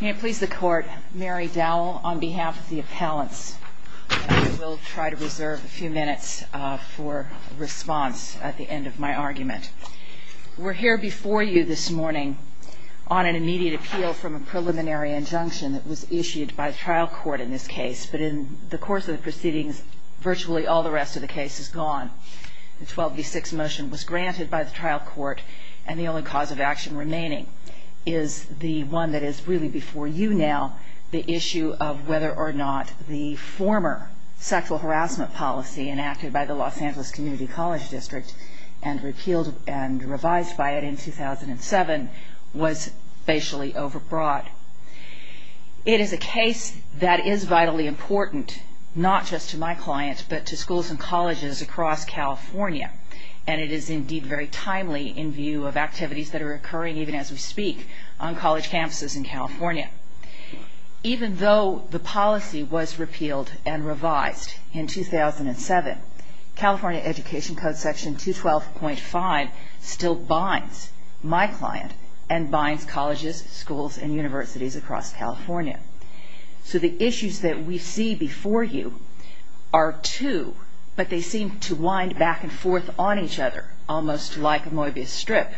May it please the court, Mary Dowell on behalf of the appellants. I will try to reserve a few minutes for response at the end of my argument. We're here before you this morning on an immediate appeal from a preliminary injunction that was issued by the trial court in this case, but in the course of the proceedings virtually all the rest of the case is gone. The 12 v. 6 motion was granted by the trial court and the only cause of action remaining is the one that is really before you now, the issue of whether or not the former sexual harassment policy enacted by the Los Angeles Community College District and repealed and revised by it in 2007 was facially overbrought. It is a case that is vitally important not just to my client but to schools and colleges across California and it is indeed very timely in view of activities that are occurring even as we speak on college campuses in California. Even though the policy was repealed and revised in 2007, California Education Code section 212.5 still binds my client and binds colleges, schools and universities across California. So the issues that we see before you are two, but they seem to wind back and forth on each other almost like a Moebius strip.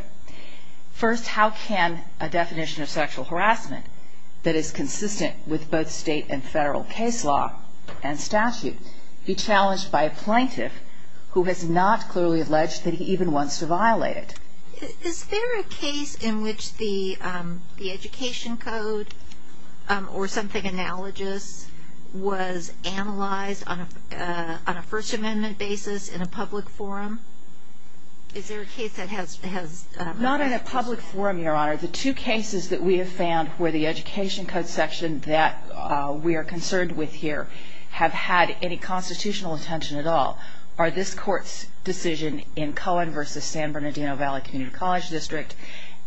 First, how can a definition of sexual harassment that is consistent with both state and federal case law and statute be challenged by a plaintiff who has not clearly alleged that he even wants to violate it? Is there a case in which the Education Code or something analogous was analyzed on a First Amendment basis in a public forum? Is there a case that has... Not in a public forum, Your Honor. The two cases that we have found where the Education Code section that we are concerned with here have had any constitutional attention at all are this Court's decision in Cohen v. San Bernardino Valley Community College District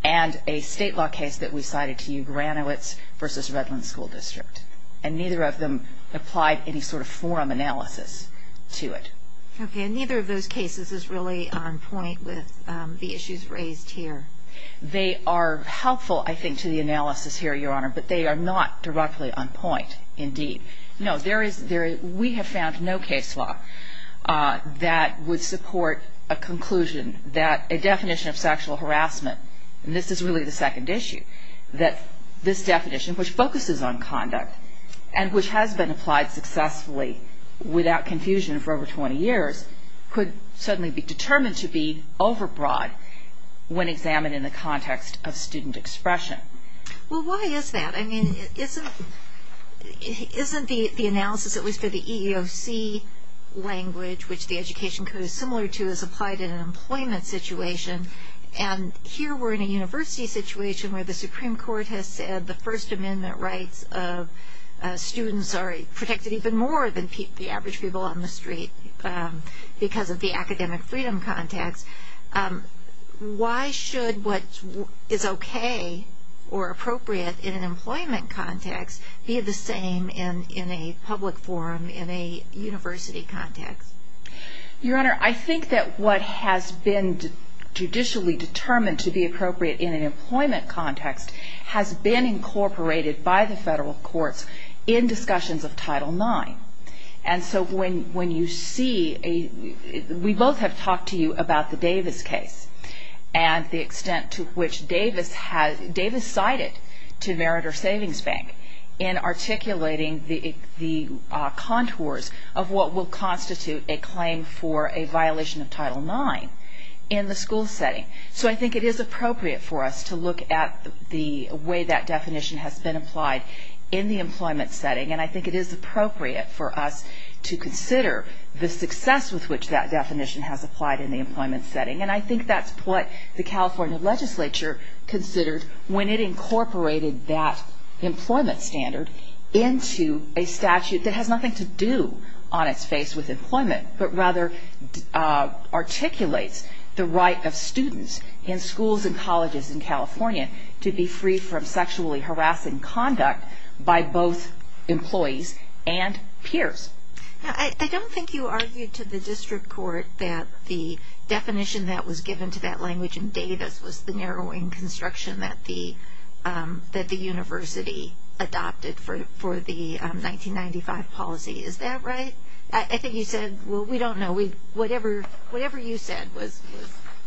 and a state law case that we cited to you, Granowitz v. Redland School District. And neither of them applied any sort of forum analysis to it. Okay, and neither of those cases is really on point with the issues raised here. They are helpful, I think, to the analysis here, Your Honor, but they are not directly on point indeed. No, we have found no case law that would support a conclusion that a definition of sexual harassment, and this is really the second issue, that this definition, which focuses on conduct and which has been applied successfully without confusion for over 20 years, could suddenly be determined to be overbroad when examined in the context of student expression. Well, why is that? I mean, isn't the analysis, at least for the EEOC language, which the Education Code is similar to, is applied in an employment situation? And here we are in a university situation where the Supreme Court has said the First Amendment rights of students are protected even more than the average people on the street because of the academic freedom context. Why should what is okay or appropriate in an employment context be the same in a public forum in a university context? Your Honor, I think that what has been judicially determined to be appropriate in an employment context has been incorporated by the federal courts in discussions of Title IX. And so when you see a – we both have talked to you about the Davis case and the extent to which Davis cited to Meritor Savings Bank in articulating the contours of what will constitute a claim for a violation of Title IX in the school setting. So I think it is appropriate for us to look at the way that definition has been applied in the employment setting, and I think it is appropriate for us to consider the success with which that definition has applied in the employment setting. And I think that's what the California legislature considered when it incorporated that employment standard into a statute that has nothing to do on its face with employment, but rather articulates the right of students in schools and colleges in California to be free from sexually harassing conduct by both employees and peers. I don't think you argued to the district court that the definition that was given to that language in Davis was the narrowing construction that the university adopted for the 1995 policy. Is that right? I think you said, well, we don't know. Whatever you said was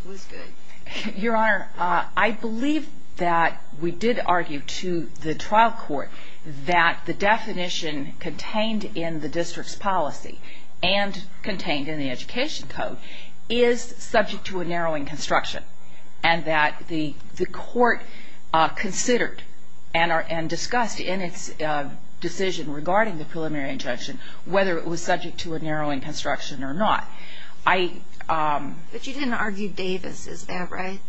good. Your Honor, I believe that we did argue to the trial court that the definition contained in the district's policy and contained in the education code is subject to a narrowing construction and that the court considered and discussed in its decision regarding the preliminary injunction whether it was subject to a narrowing construction or not. But you didn't argue Davis. Is that right?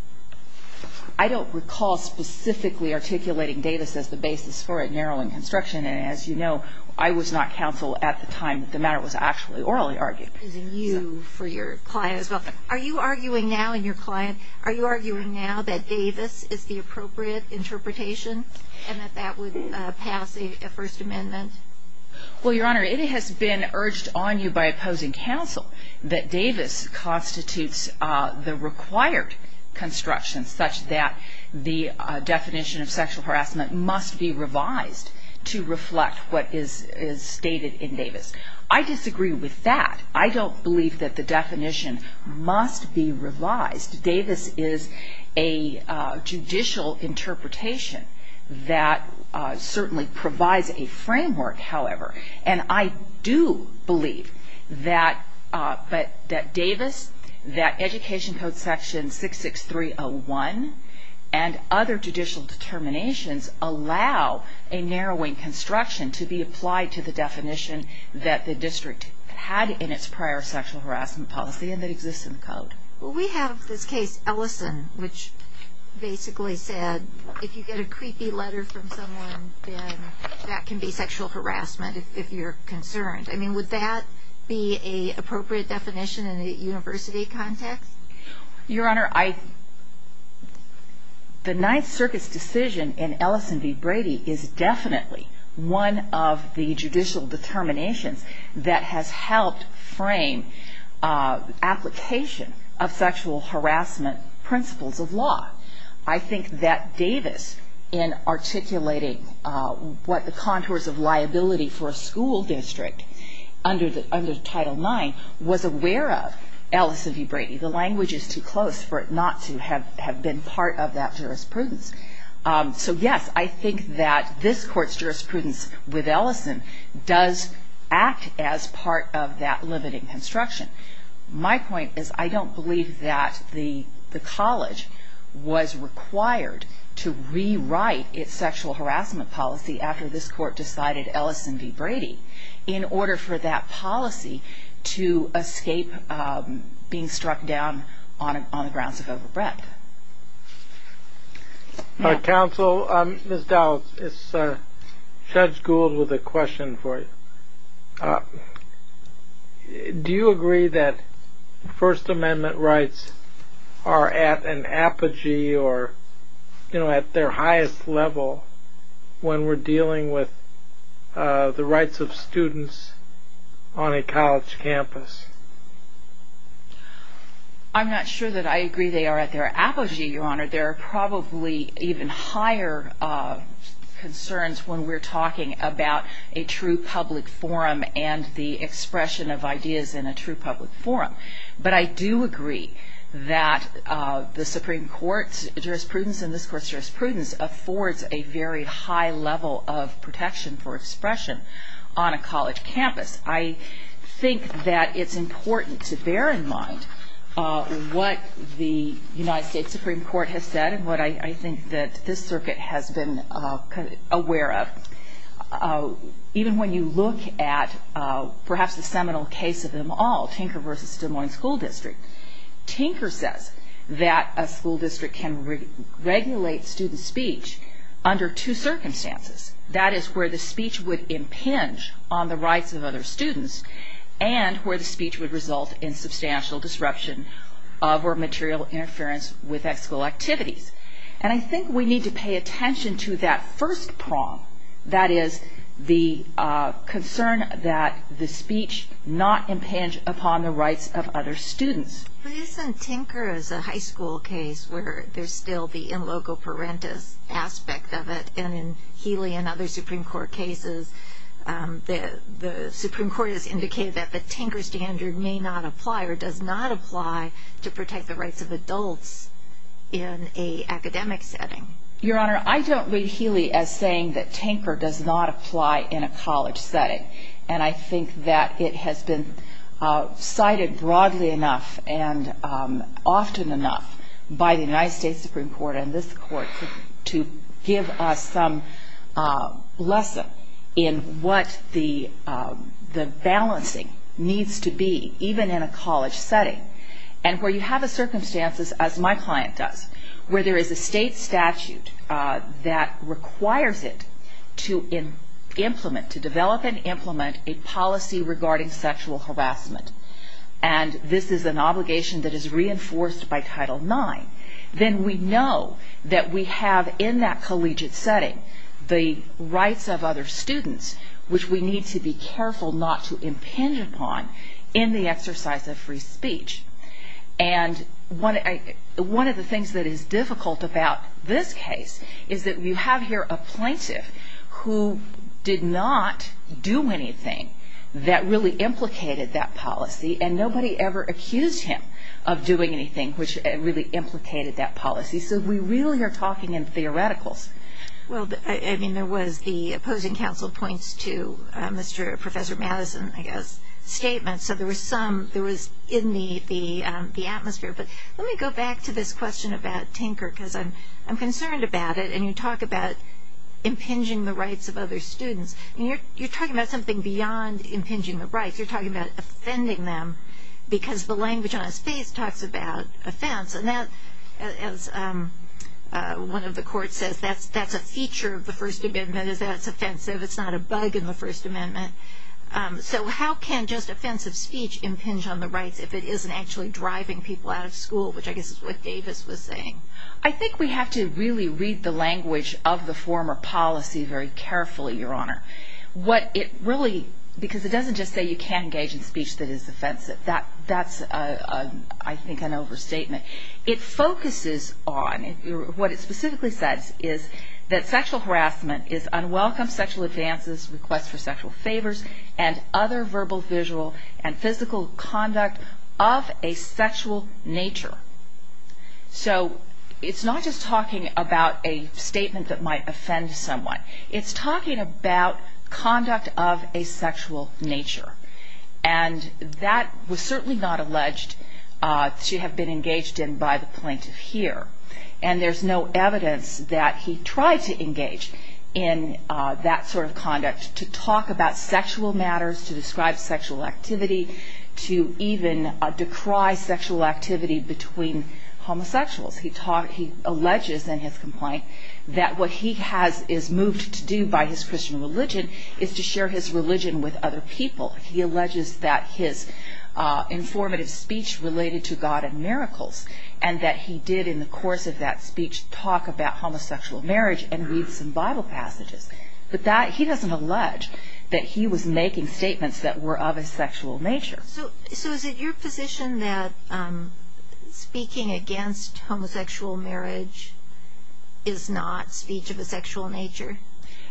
I don't recall specifically articulating Davis as the basis for a narrowing construction. And as you know, I was not counsel at the time that the matter was actually orally argued. Using you for your client as well. Are you arguing now in your client, are you arguing now that Davis is the appropriate interpretation and that that would pass a First Amendment? Well, Your Honor, it has been urged on you by opposing counsel that Davis constitutes the required construction such that the definition of sexual harassment must be revised to reflect what is stated in Davis. I disagree with that. I don't believe that the definition must be revised. Davis is a judicial interpretation that certainly provides a framework, however. And I do believe that Davis, that Education Code Section 66301 and other judicial determinations allow a narrowing construction to be applied to the definition that the district had in its prior sexual harassment policy and that exists in the code. Well, we have this case, Ellison, which basically said if you get a creepy letter from someone, then that can be sexual harassment if you're concerned. I mean, would that be an appropriate definition in a university context? Your Honor, the Ninth Circuit's decision in Ellison v. Brady is definitely one of the judicial determinations that has helped frame application of sexual harassment principles of law. I think that Davis, in articulating what the contours of liability for a school district under Title IX, was aware of Ellison v. Brady. The language is too close for it not to have been part of that jurisprudence. So, yes, I think that this Court's jurisprudence with Ellison does act as part of that limiting construction. My point is I don't believe that the college was required to rewrite its sexual harassment policy after this Court decided Ellison v. Brady in order for that policy to escape being struck down on the grounds of overbreadth. Counsel, Ms. Dowd, Judge Gould with a question for you. Do you agree that First Amendment rights are at an apogee or, you know, at their highest level when we're dealing with the rights of students on a college campus? I'm not sure that I agree they are at their apogee, Your Honor. There are probably even higher concerns when we're talking about a true public forum and the expression of ideas in a true public forum. But I do agree that the Supreme Court's jurisprudence and this Court's jurisprudence affords a very high level of protection for expression on a college campus. I think that it's important to bear in mind what the United States Supreme Court has said and what I think that this Circuit has been aware of. Even when you look at perhaps the seminal case of them all, Tinker v. Des Moines School District, Tinker says that a school district can regulate student speech under two circumstances. That is, where the speech would impinge on the rights of other students and where the speech would result in substantial disruption of or material interference with that school activities. And I think we need to pay attention to that first prong, that is, the concern that the speech not impinge upon the rights of other students. But isn't Tinker as a high school case where there's still the in loco parentis aspect of it and in Healy and other Supreme Court cases, the Supreme Court has indicated that the Tinker standard may not apply or does not apply to protect the rights of adults in an academic setting. Your Honor, I don't read Healy as saying that Tinker does not apply in a college setting. And I think that it has been cited broadly enough and often enough by the United States Supreme Court and this Court to give us some lesson in what the balancing needs to be, even in a college setting. And where you have the circumstances, as my client does, where there is a state statute that requires it to implement, to develop and implement a policy regarding sexual harassment, and this is an obligation that is reinforced by Title IX, then we know that we have in that collegiate setting the rights of other students, which we need to be careful not to impinge upon in the exercise of free speech. And one of the things that is difficult about this case is that you have here a plaintiff who did not do anything that really implicated that policy and nobody ever accused him of doing anything which really implicated that policy. So we really are talking in theoreticals. Well, I mean, there was the opposing counsel points to Mr. Professor Madison, I guess, statements. So there was some, there was in the atmosphere. But let me go back to this question about Tinker because I'm concerned about it. And you talk about impinging the rights of other students. You're talking about something beyond impinging the rights. You're talking about offending them because the language on his face talks about offense. And that, as one of the courts says, that's a feature of the First Amendment is that it's offensive. It's not a bug in the First Amendment. So how can just offensive speech impinge on the rights if it isn't actually driving people out of school, which I guess is what Davis was saying. I think we have to really read the language of the former policy very carefully, Your Honor. What it really, because it doesn't just say you can't engage in speech that is offensive. That's, I think, an overstatement. It focuses on, what it specifically says is that sexual harassment is unwelcome sexual advances, requests for sexual favors, and other verbal, visual, and physical conduct of a sexual nature. So it's not just talking about a statement that might offend someone. It's talking about conduct of a sexual nature. And that was certainly not alleged to have been engaged in by the plaintiff here. And there's no evidence that he tried to engage in that sort of conduct to talk about sexual matters, to describe sexual activity, to even decry sexual activity between homosexuals. He alleges in his complaint that what he is moved to do by his Christian religion is to share his religion with other people. He alleges that his informative speech related to God and miracles, and that he did in the course of that speech talk about homosexual marriage and read some Bible passages. But he doesn't allege that he was making statements that were of a sexual nature. So is it your position that speaking against homosexual marriage is not speech of a sexual nature?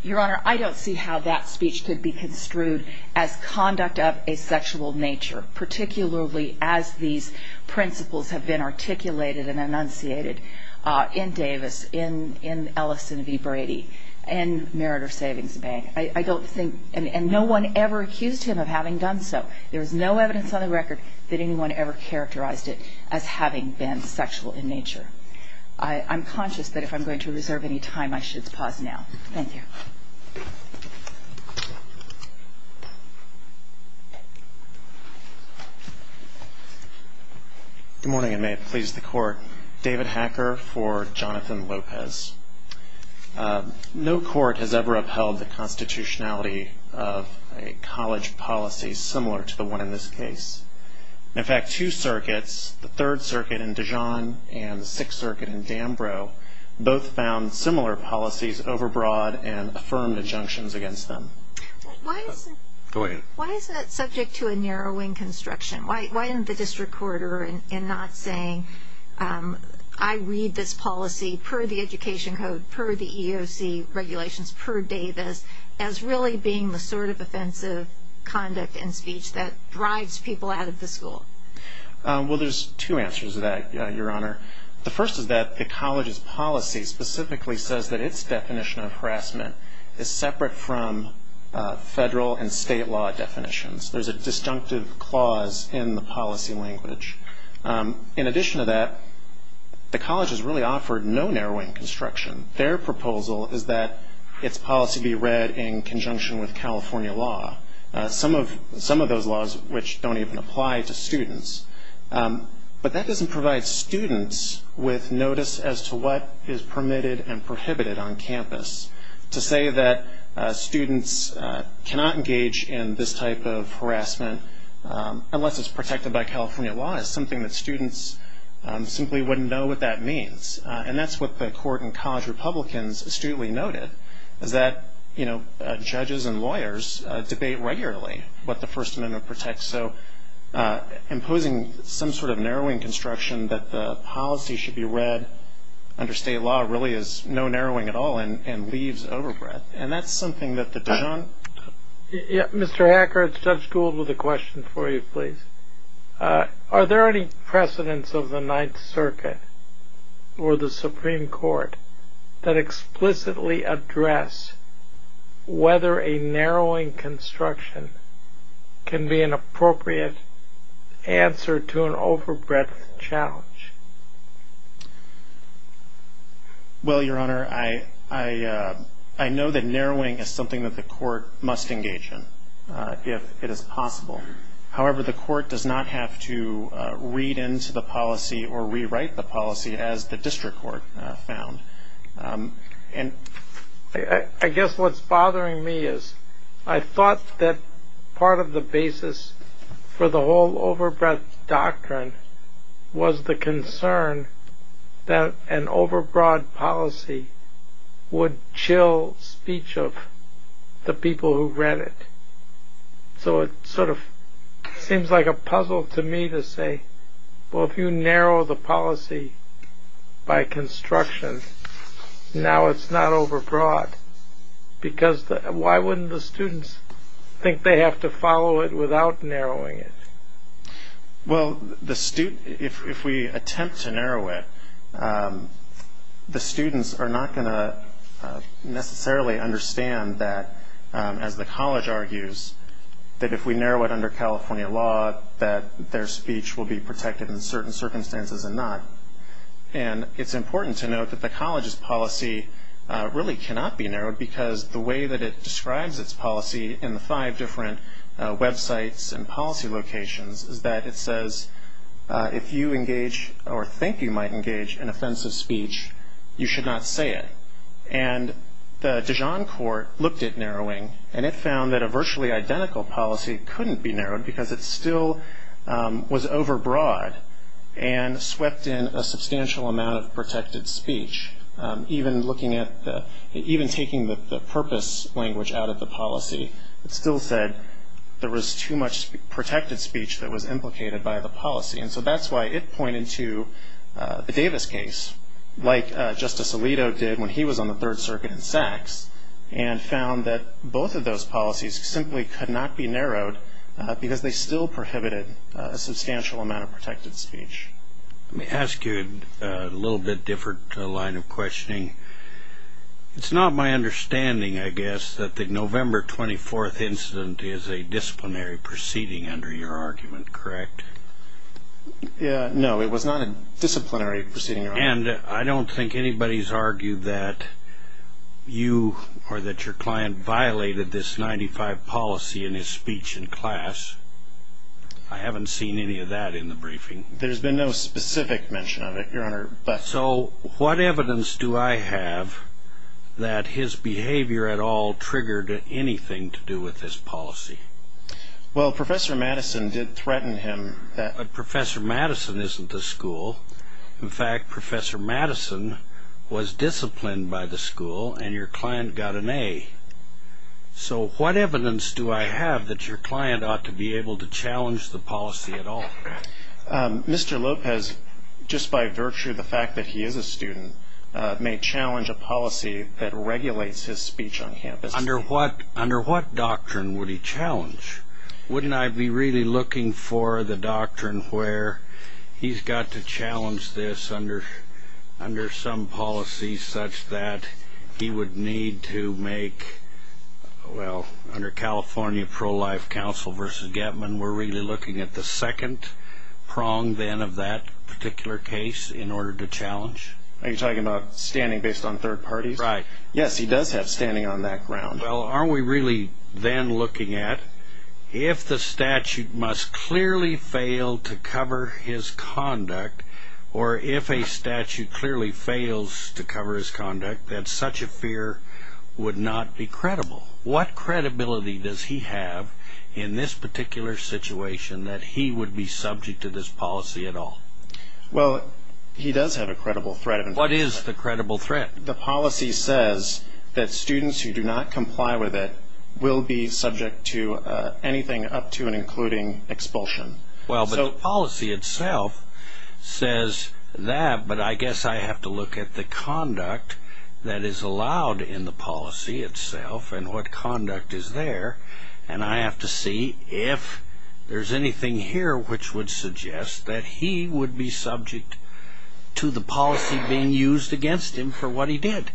Your Honor, I don't see how that speech could be construed as conduct of a sexual nature, particularly as these principles have been articulated and enunciated in Davis, in Ellison v. Brady, and Meritor Savings Bank. I don't think, and no one ever accused him of having done so. There is no evidence on the record that anyone ever characterized it as having been sexual in nature. I'm conscious that if I'm going to reserve any time, I should pause now. Thank you. Good morning, and may it please the Court. David Hacker for Jonathan Lopez. No court has ever upheld the constitutionality of a college policy similar to the one in this case. In fact, two circuits, the Third Circuit in Dijon and the Sixth Circuit in Danbro, both found similar policies overbroad and affirmed injunctions against them. Go ahead. Why is that subject to a narrowing construction? Why isn't the district court in not saying, I read this policy per the education code, per the EOC regulations, per Davis, as really being the sort of offensive conduct and speech that drives people out of the school? Well, there's two answers to that, Your Honor. The first is that the college's policy specifically says that its definition of harassment is separate from federal and state law definitions. There's a disjunctive clause in the policy language. In addition to that, the college has really offered no narrowing construction. Their proposal is that its policy be read in conjunction with California law, some of those laws which don't even apply to students. But that doesn't provide students with notice as to what is permitted and prohibited on campus. To say that students cannot engage in this type of harassment unless it's protected by California law is something that students simply wouldn't know what that means. And that's what the court in College Republicans astutely noted, is that judges and lawyers debate regularly what the First Amendment protects. So imposing some sort of narrowing construction that the policy should be read under state law really is no narrowing at all and leaves overbreadth. And that's something that the judge... Mr. Hacker, it's Judge Gould with a question for you, please. Are there any precedents of the Ninth Circuit or the Supreme Court that explicitly address whether a narrowing construction can be an appropriate answer to an overbreadth challenge? Well, Your Honor, I know that narrowing is something that the court must engage in if it is possible. However, the court does not have to read into the policy or rewrite the policy as the district court found. And I guess what's bothering me is I thought that part of the basis for the whole overbreadth doctrine was the concern that an overbroad policy would chill speech of the people who read it. So it sort of seems like a puzzle to me to say, well, if you narrow the policy by construction, now it's not overbroad. Because why wouldn't the students think they have to follow it without narrowing it? Well, if we attempt to narrow it, the students are not going to necessarily understand that, as the college argues, that if we narrow it under California law, that their speech will be protected in certain circumstances and not. And it's important to note that the college's policy really cannot be narrowed because the way that it describes its policy in the five different websites and policy locations is that it says if you engage or think you might engage in offensive speech, you should not say it. And the Dijon court looked at narrowing, and it found that a virtually identical policy couldn't be narrowed because it still was overbroad and swept in a substantial amount of protected speech. Even taking the purpose language out of the policy, it still said there was too much protected speech that was implicated by the policy. And so that's why it pointed to the Davis case, like Justice Alito did when he was on the Third Circuit in Saks, and found that both of those policies simply could not be narrowed because they still prohibited a substantial amount of protected speech. Let me ask you a little bit different line of questioning. It's not my understanding, I guess, that the November 24th incident is a disciplinary proceeding under your argument, correct? No, it was not a disciplinary proceeding, Your Honor. And I don't think anybody's argued that you or that your client violated this 95 policy in his speech in class. I haven't seen any of that in the briefing. There's been no specific mention of it, Your Honor. So what evidence do I have that his behavior at all triggered anything to do with this policy? Well, Professor Madison did threaten him. But Professor Madison isn't the school. In fact, Professor Madison was disciplined by the school, and your client got an A. So what evidence do I have that your client ought to be able to challenge the policy at all? Mr. Lopez, just by virtue of the fact that he is a student, may challenge a policy that regulates his speech on campus. Under what doctrine would he challenge? Wouldn't I be really looking for the doctrine where he's got to challenge this under some policy such that he would need to make, well, under California Pro-Life Council v. Gettman, we're really looking at the second prong, then, of that particular case in order to challenge? Are you talking about standing based on third parties? Right. Yes, he does have standing on that ground. Well, aren't we really then looking at if the statute must clearly fail to cover his conduct, or if a statute clearly fails to cover his conduct, that such a fear would not be credible? What credibility does he have in this particular situation that he would be subject to this policy at all? Well, he does have a credible threat. What is the credible threat? The policy says that students who do not comply with it will be subject to anything up to and including expulsion. Well, but the policy itself says that, but I guess I have to look at the conduct that is allowed in the policy itself and what conduct is there, and I have to see if there's anything here which would suggest that he would be subject to the policy being used against him for what he did.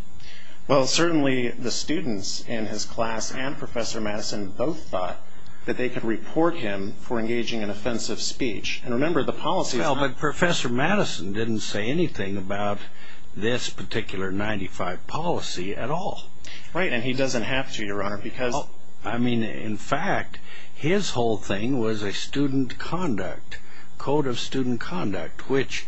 Well, certainly the students in his class and Professor Madison both thought that they could report him for engaging in offensive speech. And remember, the policy is not... Well, but Professor Madison didn't say anything about this particular 95 policy at all. Right, and he doesn't have to, Your Honor, because... I mean, in fact, his whole thing was a student conduct, code of student conduct, which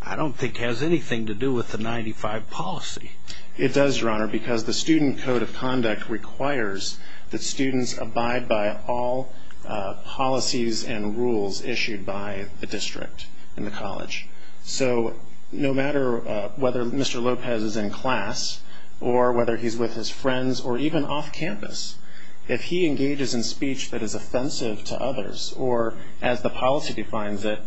I don't think has anything to do with the 95 policy. It does, Your Honor, because the student code of conduct requires that students abide by all policies and rules issued by the district and the college. So no matter whether Mr. Lopez is in class or whether he's with his friends or even off campus, if he engages in speech that is offensive to others or, as the policy defines it,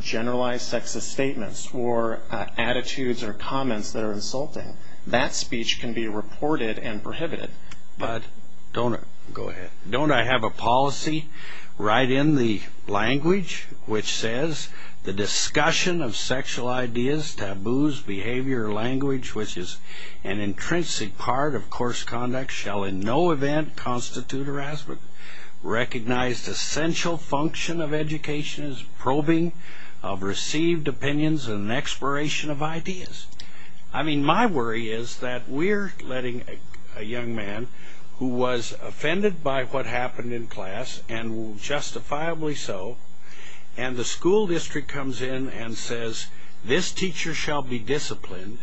generalized sexist statements or attitudes or comments that are insulting, that speech can be reported and prohibited. Go ahead. Don't I have a policy right in the language which says, The discussion of sexual ideas, taboos, behavior, or language, which is an intrinsic part of course conduct, shall in no event constitute harassment. Recognized essential function of education is probing of received opinions and exploration of ideas. I mean, my worry is that we're letting a young man who was offended by what happened in class, and justifiably so, and the school district comes in and says, This teacher shall be disciplined.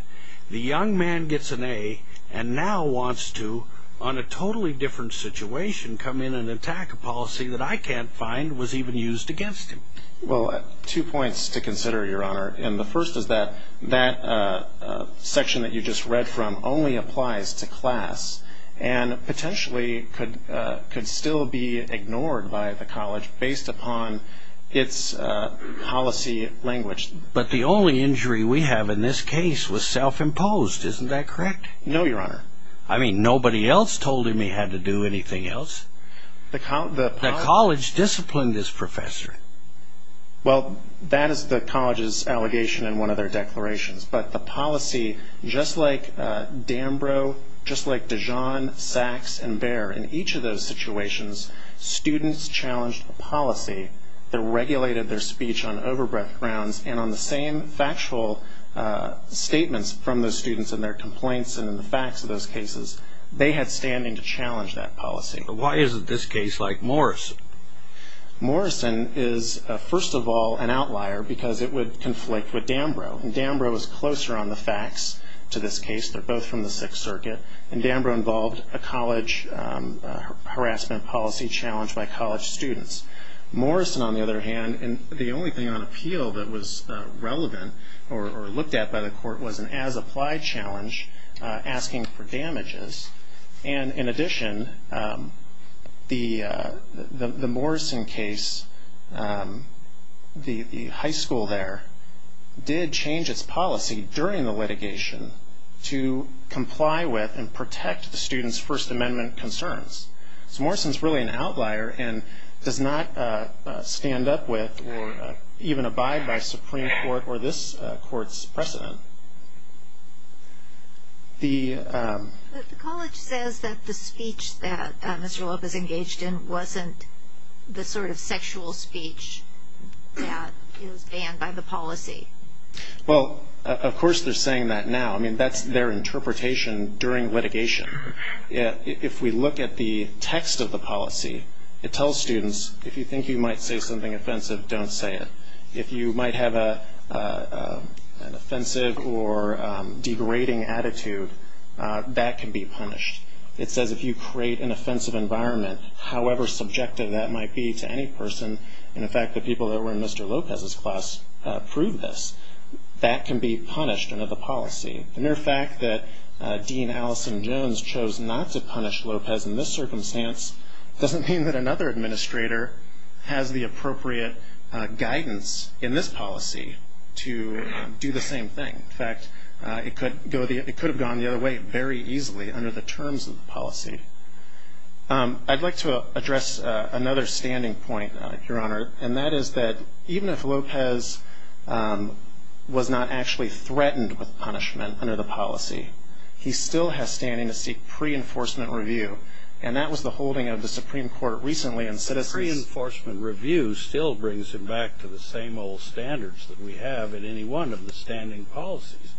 The young man gets an A and now wants to, on a totally different situation, come in and attack a policy that I can't find was even used against him. Well, two points to consider, Your Honor. And the first is that that section that you just read from only applies to class and potentially could still be ignored by the college based upon its policy language. But the only injury we have in this case was self-imposed. Isn't that correct? No, Your Honor. I mean, nobody else told him he had to do anything else. The college disciplined this professor. Well, that is the college's allegation in one of their declarations. But the policy, just like Dambro, just like Dijon, Sachs, and Baer, in each of those situations, students challenged a policy that regulated their speech on over-breadth grounds, and on the same factual statements from those students in their complaints and in the facts of those cases, they had standing to challenge that policy. But why is it this case like Morrison? Morrison is, first of all, an outlier because it would conflict with Dambro. And Dambro is closer on the facts to this case. They're both from the Sixth Circuit. And Dambro involved a college harassment policy challenge by college students. Morrison, on the other hand, and the only thing on appeal that was relevant or looked at by the court, was an as-applied challenge asking for damages. And in addition, the Morrison case, the high school there, did change its policy during the litigation to comply with and protect the students' First Amendment concerns. So Morrison's really an outlier and does not stand up with or even abide by Supreme Court or this court's precedent. The... The college says that the speech that Mr. Loeb is engaged in wasn't the sort of sexual speech that is banned by the policy. Well, of course they're saying that now. I mean, that's their interpretation during litigation. If we look at the text of the policy, it tells students, if you think you might say something offensive, don't say it. If you might have an offensive or degrading attitude, that can be punished. It says if you create an offensive environment, however subjective that might be to any person, and in fact the people that were in Mr. Lopez's class proved this, that can be punished under the policy. The mere fact that Dean Allison Jones chose not to punish Lopez in this circumstance doesn't mean that another administrator has the appropriate guidance in this policy to do the same thing. In fact, it could have gone the other way very easily under the terms of the policy. I'd like to address another standing point, Your Honor, and that is that even if Lopez was not actually threatened with punishment under the policy, he still has standing to seek pre-enforcement review, and that was the holding of the Supreme Court recently in Citizens... The pre-enforcement review still brings him back to the same old standards that we have in any one of the standing policies,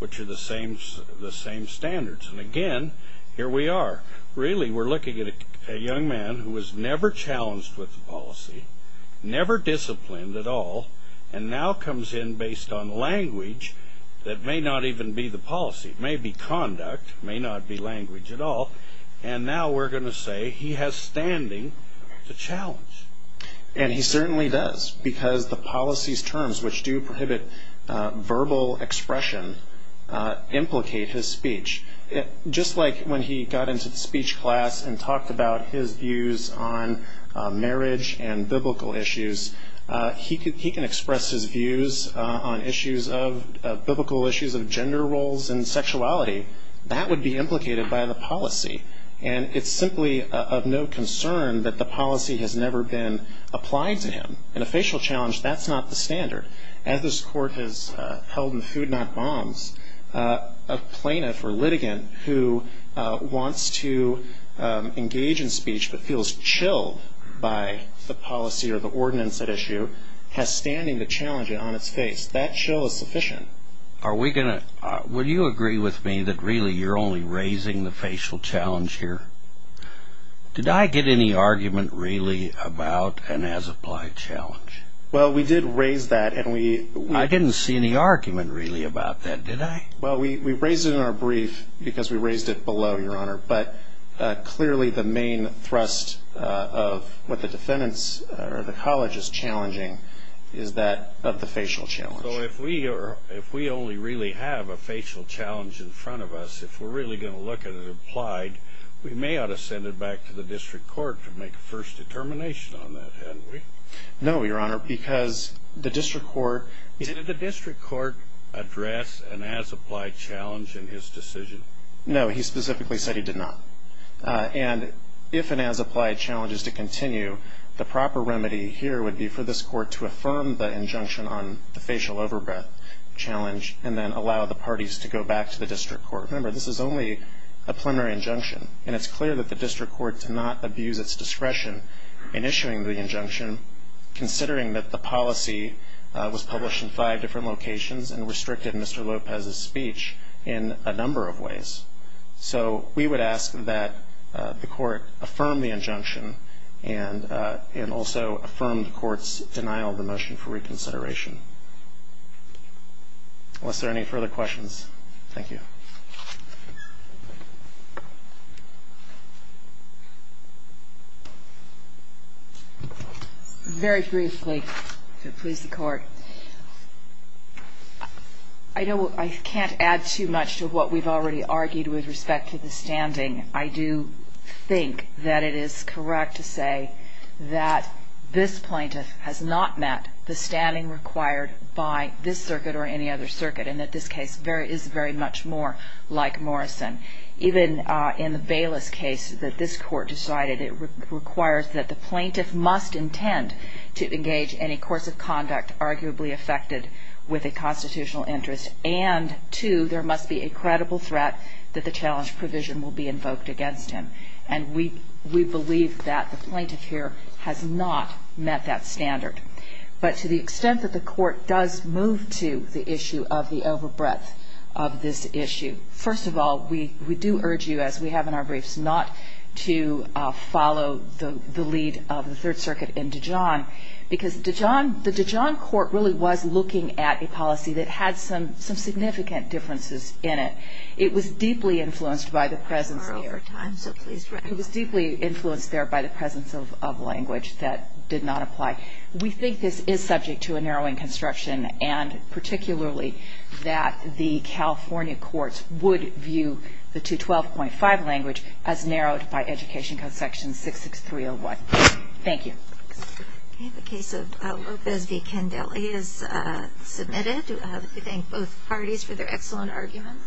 which are the same standards. And again, here we are. Really, we're looking at a young man who was never challenged with the policy, never disciplined at all, and now comes in based on language that may not even be the policy. It may be conduct. It may not be language at all. And now we're going to say he has standing to challenge. And he certainly does because the policy's terms, which do prohibit verbal expression, implicate his speech. Just like when he got into the speech class and talked about his views on marriage and biblical issues, he can express his views on issues of biblical issues of gender roles and sexuality. That would be implicated by the policy. And it's simply of no concern that the policy has never been applied to him. In a facial challenge, that's not the standard. As this Court has held in Food Not Bombs, a plaintiff or litigant who wants to engage in speech but feels chilled by the policy or the ordinance at issue has standing to challenge it on its face. That chill is sufficient. Are we going to – will you agree with me that really you're only raising the facial challenge here? Did I get any argument really about an as-applied challenge? Well, we did raise that, and we – I didn't see any argument really about that, did I? Well, we raised it in our brief because we raised it below, Your Honor. But clearly the main thrust of what the defendants or the college is challenging is that of the facial challenge. So if we only really have a facial challenge in front of us, if we're really going to look at it applied, we may ought to send it back to the district court to make a first determination on that, hadn't we? No, Your Honor, because the district court – Did the district court address an as-applied challenge in his decision? No, he specifically said he did not. And if an as-applied challenge is to continue, the proper remedy here would be for this court to affirm the injunction on the facial overbreath challenge and then allow the parties to go back to the district court. Remember, this is only a preliminary injunction, and it's clear that the district court did not abuse its discretion in issuing the injunction, considering that the policy was published in five different locations and restricted Mr. Lopez's speech in a number of ways. So we would ask that the court affirm the injunction and also affirm the court's denial of the motion for reconsideration. Unless there are any further questions. Thank you. Very briefly, if it pleases the court. I know I can't add too much to what we've already argued with respect to the standing. I do think that it is correct to say that this plaintiff has not met the standing required by this circuit or any other circuit, and that this case is very much more than that. Even in the Bayless case that this court decided, it requires that the plaintiff must intend to engage any course of conduct arguably affected with a constitutional interest, and two, there must be a credible threat that the challenge provision will be invoked against him. And we believe that the plaintiff here has not met that standard. But to the extent that the court does move to the issue of the overbreadth of this issue, first of all, we do urge you, as we have in our briefs, not to follow the lead of the Third Circuit in Dijon, because the Dijon court really was looking at a policy that had some significant differences in it. It was deeply influenced there by the presence of language that did not apply. We think this is subject to a narrowing construction, and particularly that the California courts would view the 212.5 language as narrowed by Education Code section 66301. Thank you. The case of Lopez v. Candelli is submitted. We thank both parties for their excellent argument.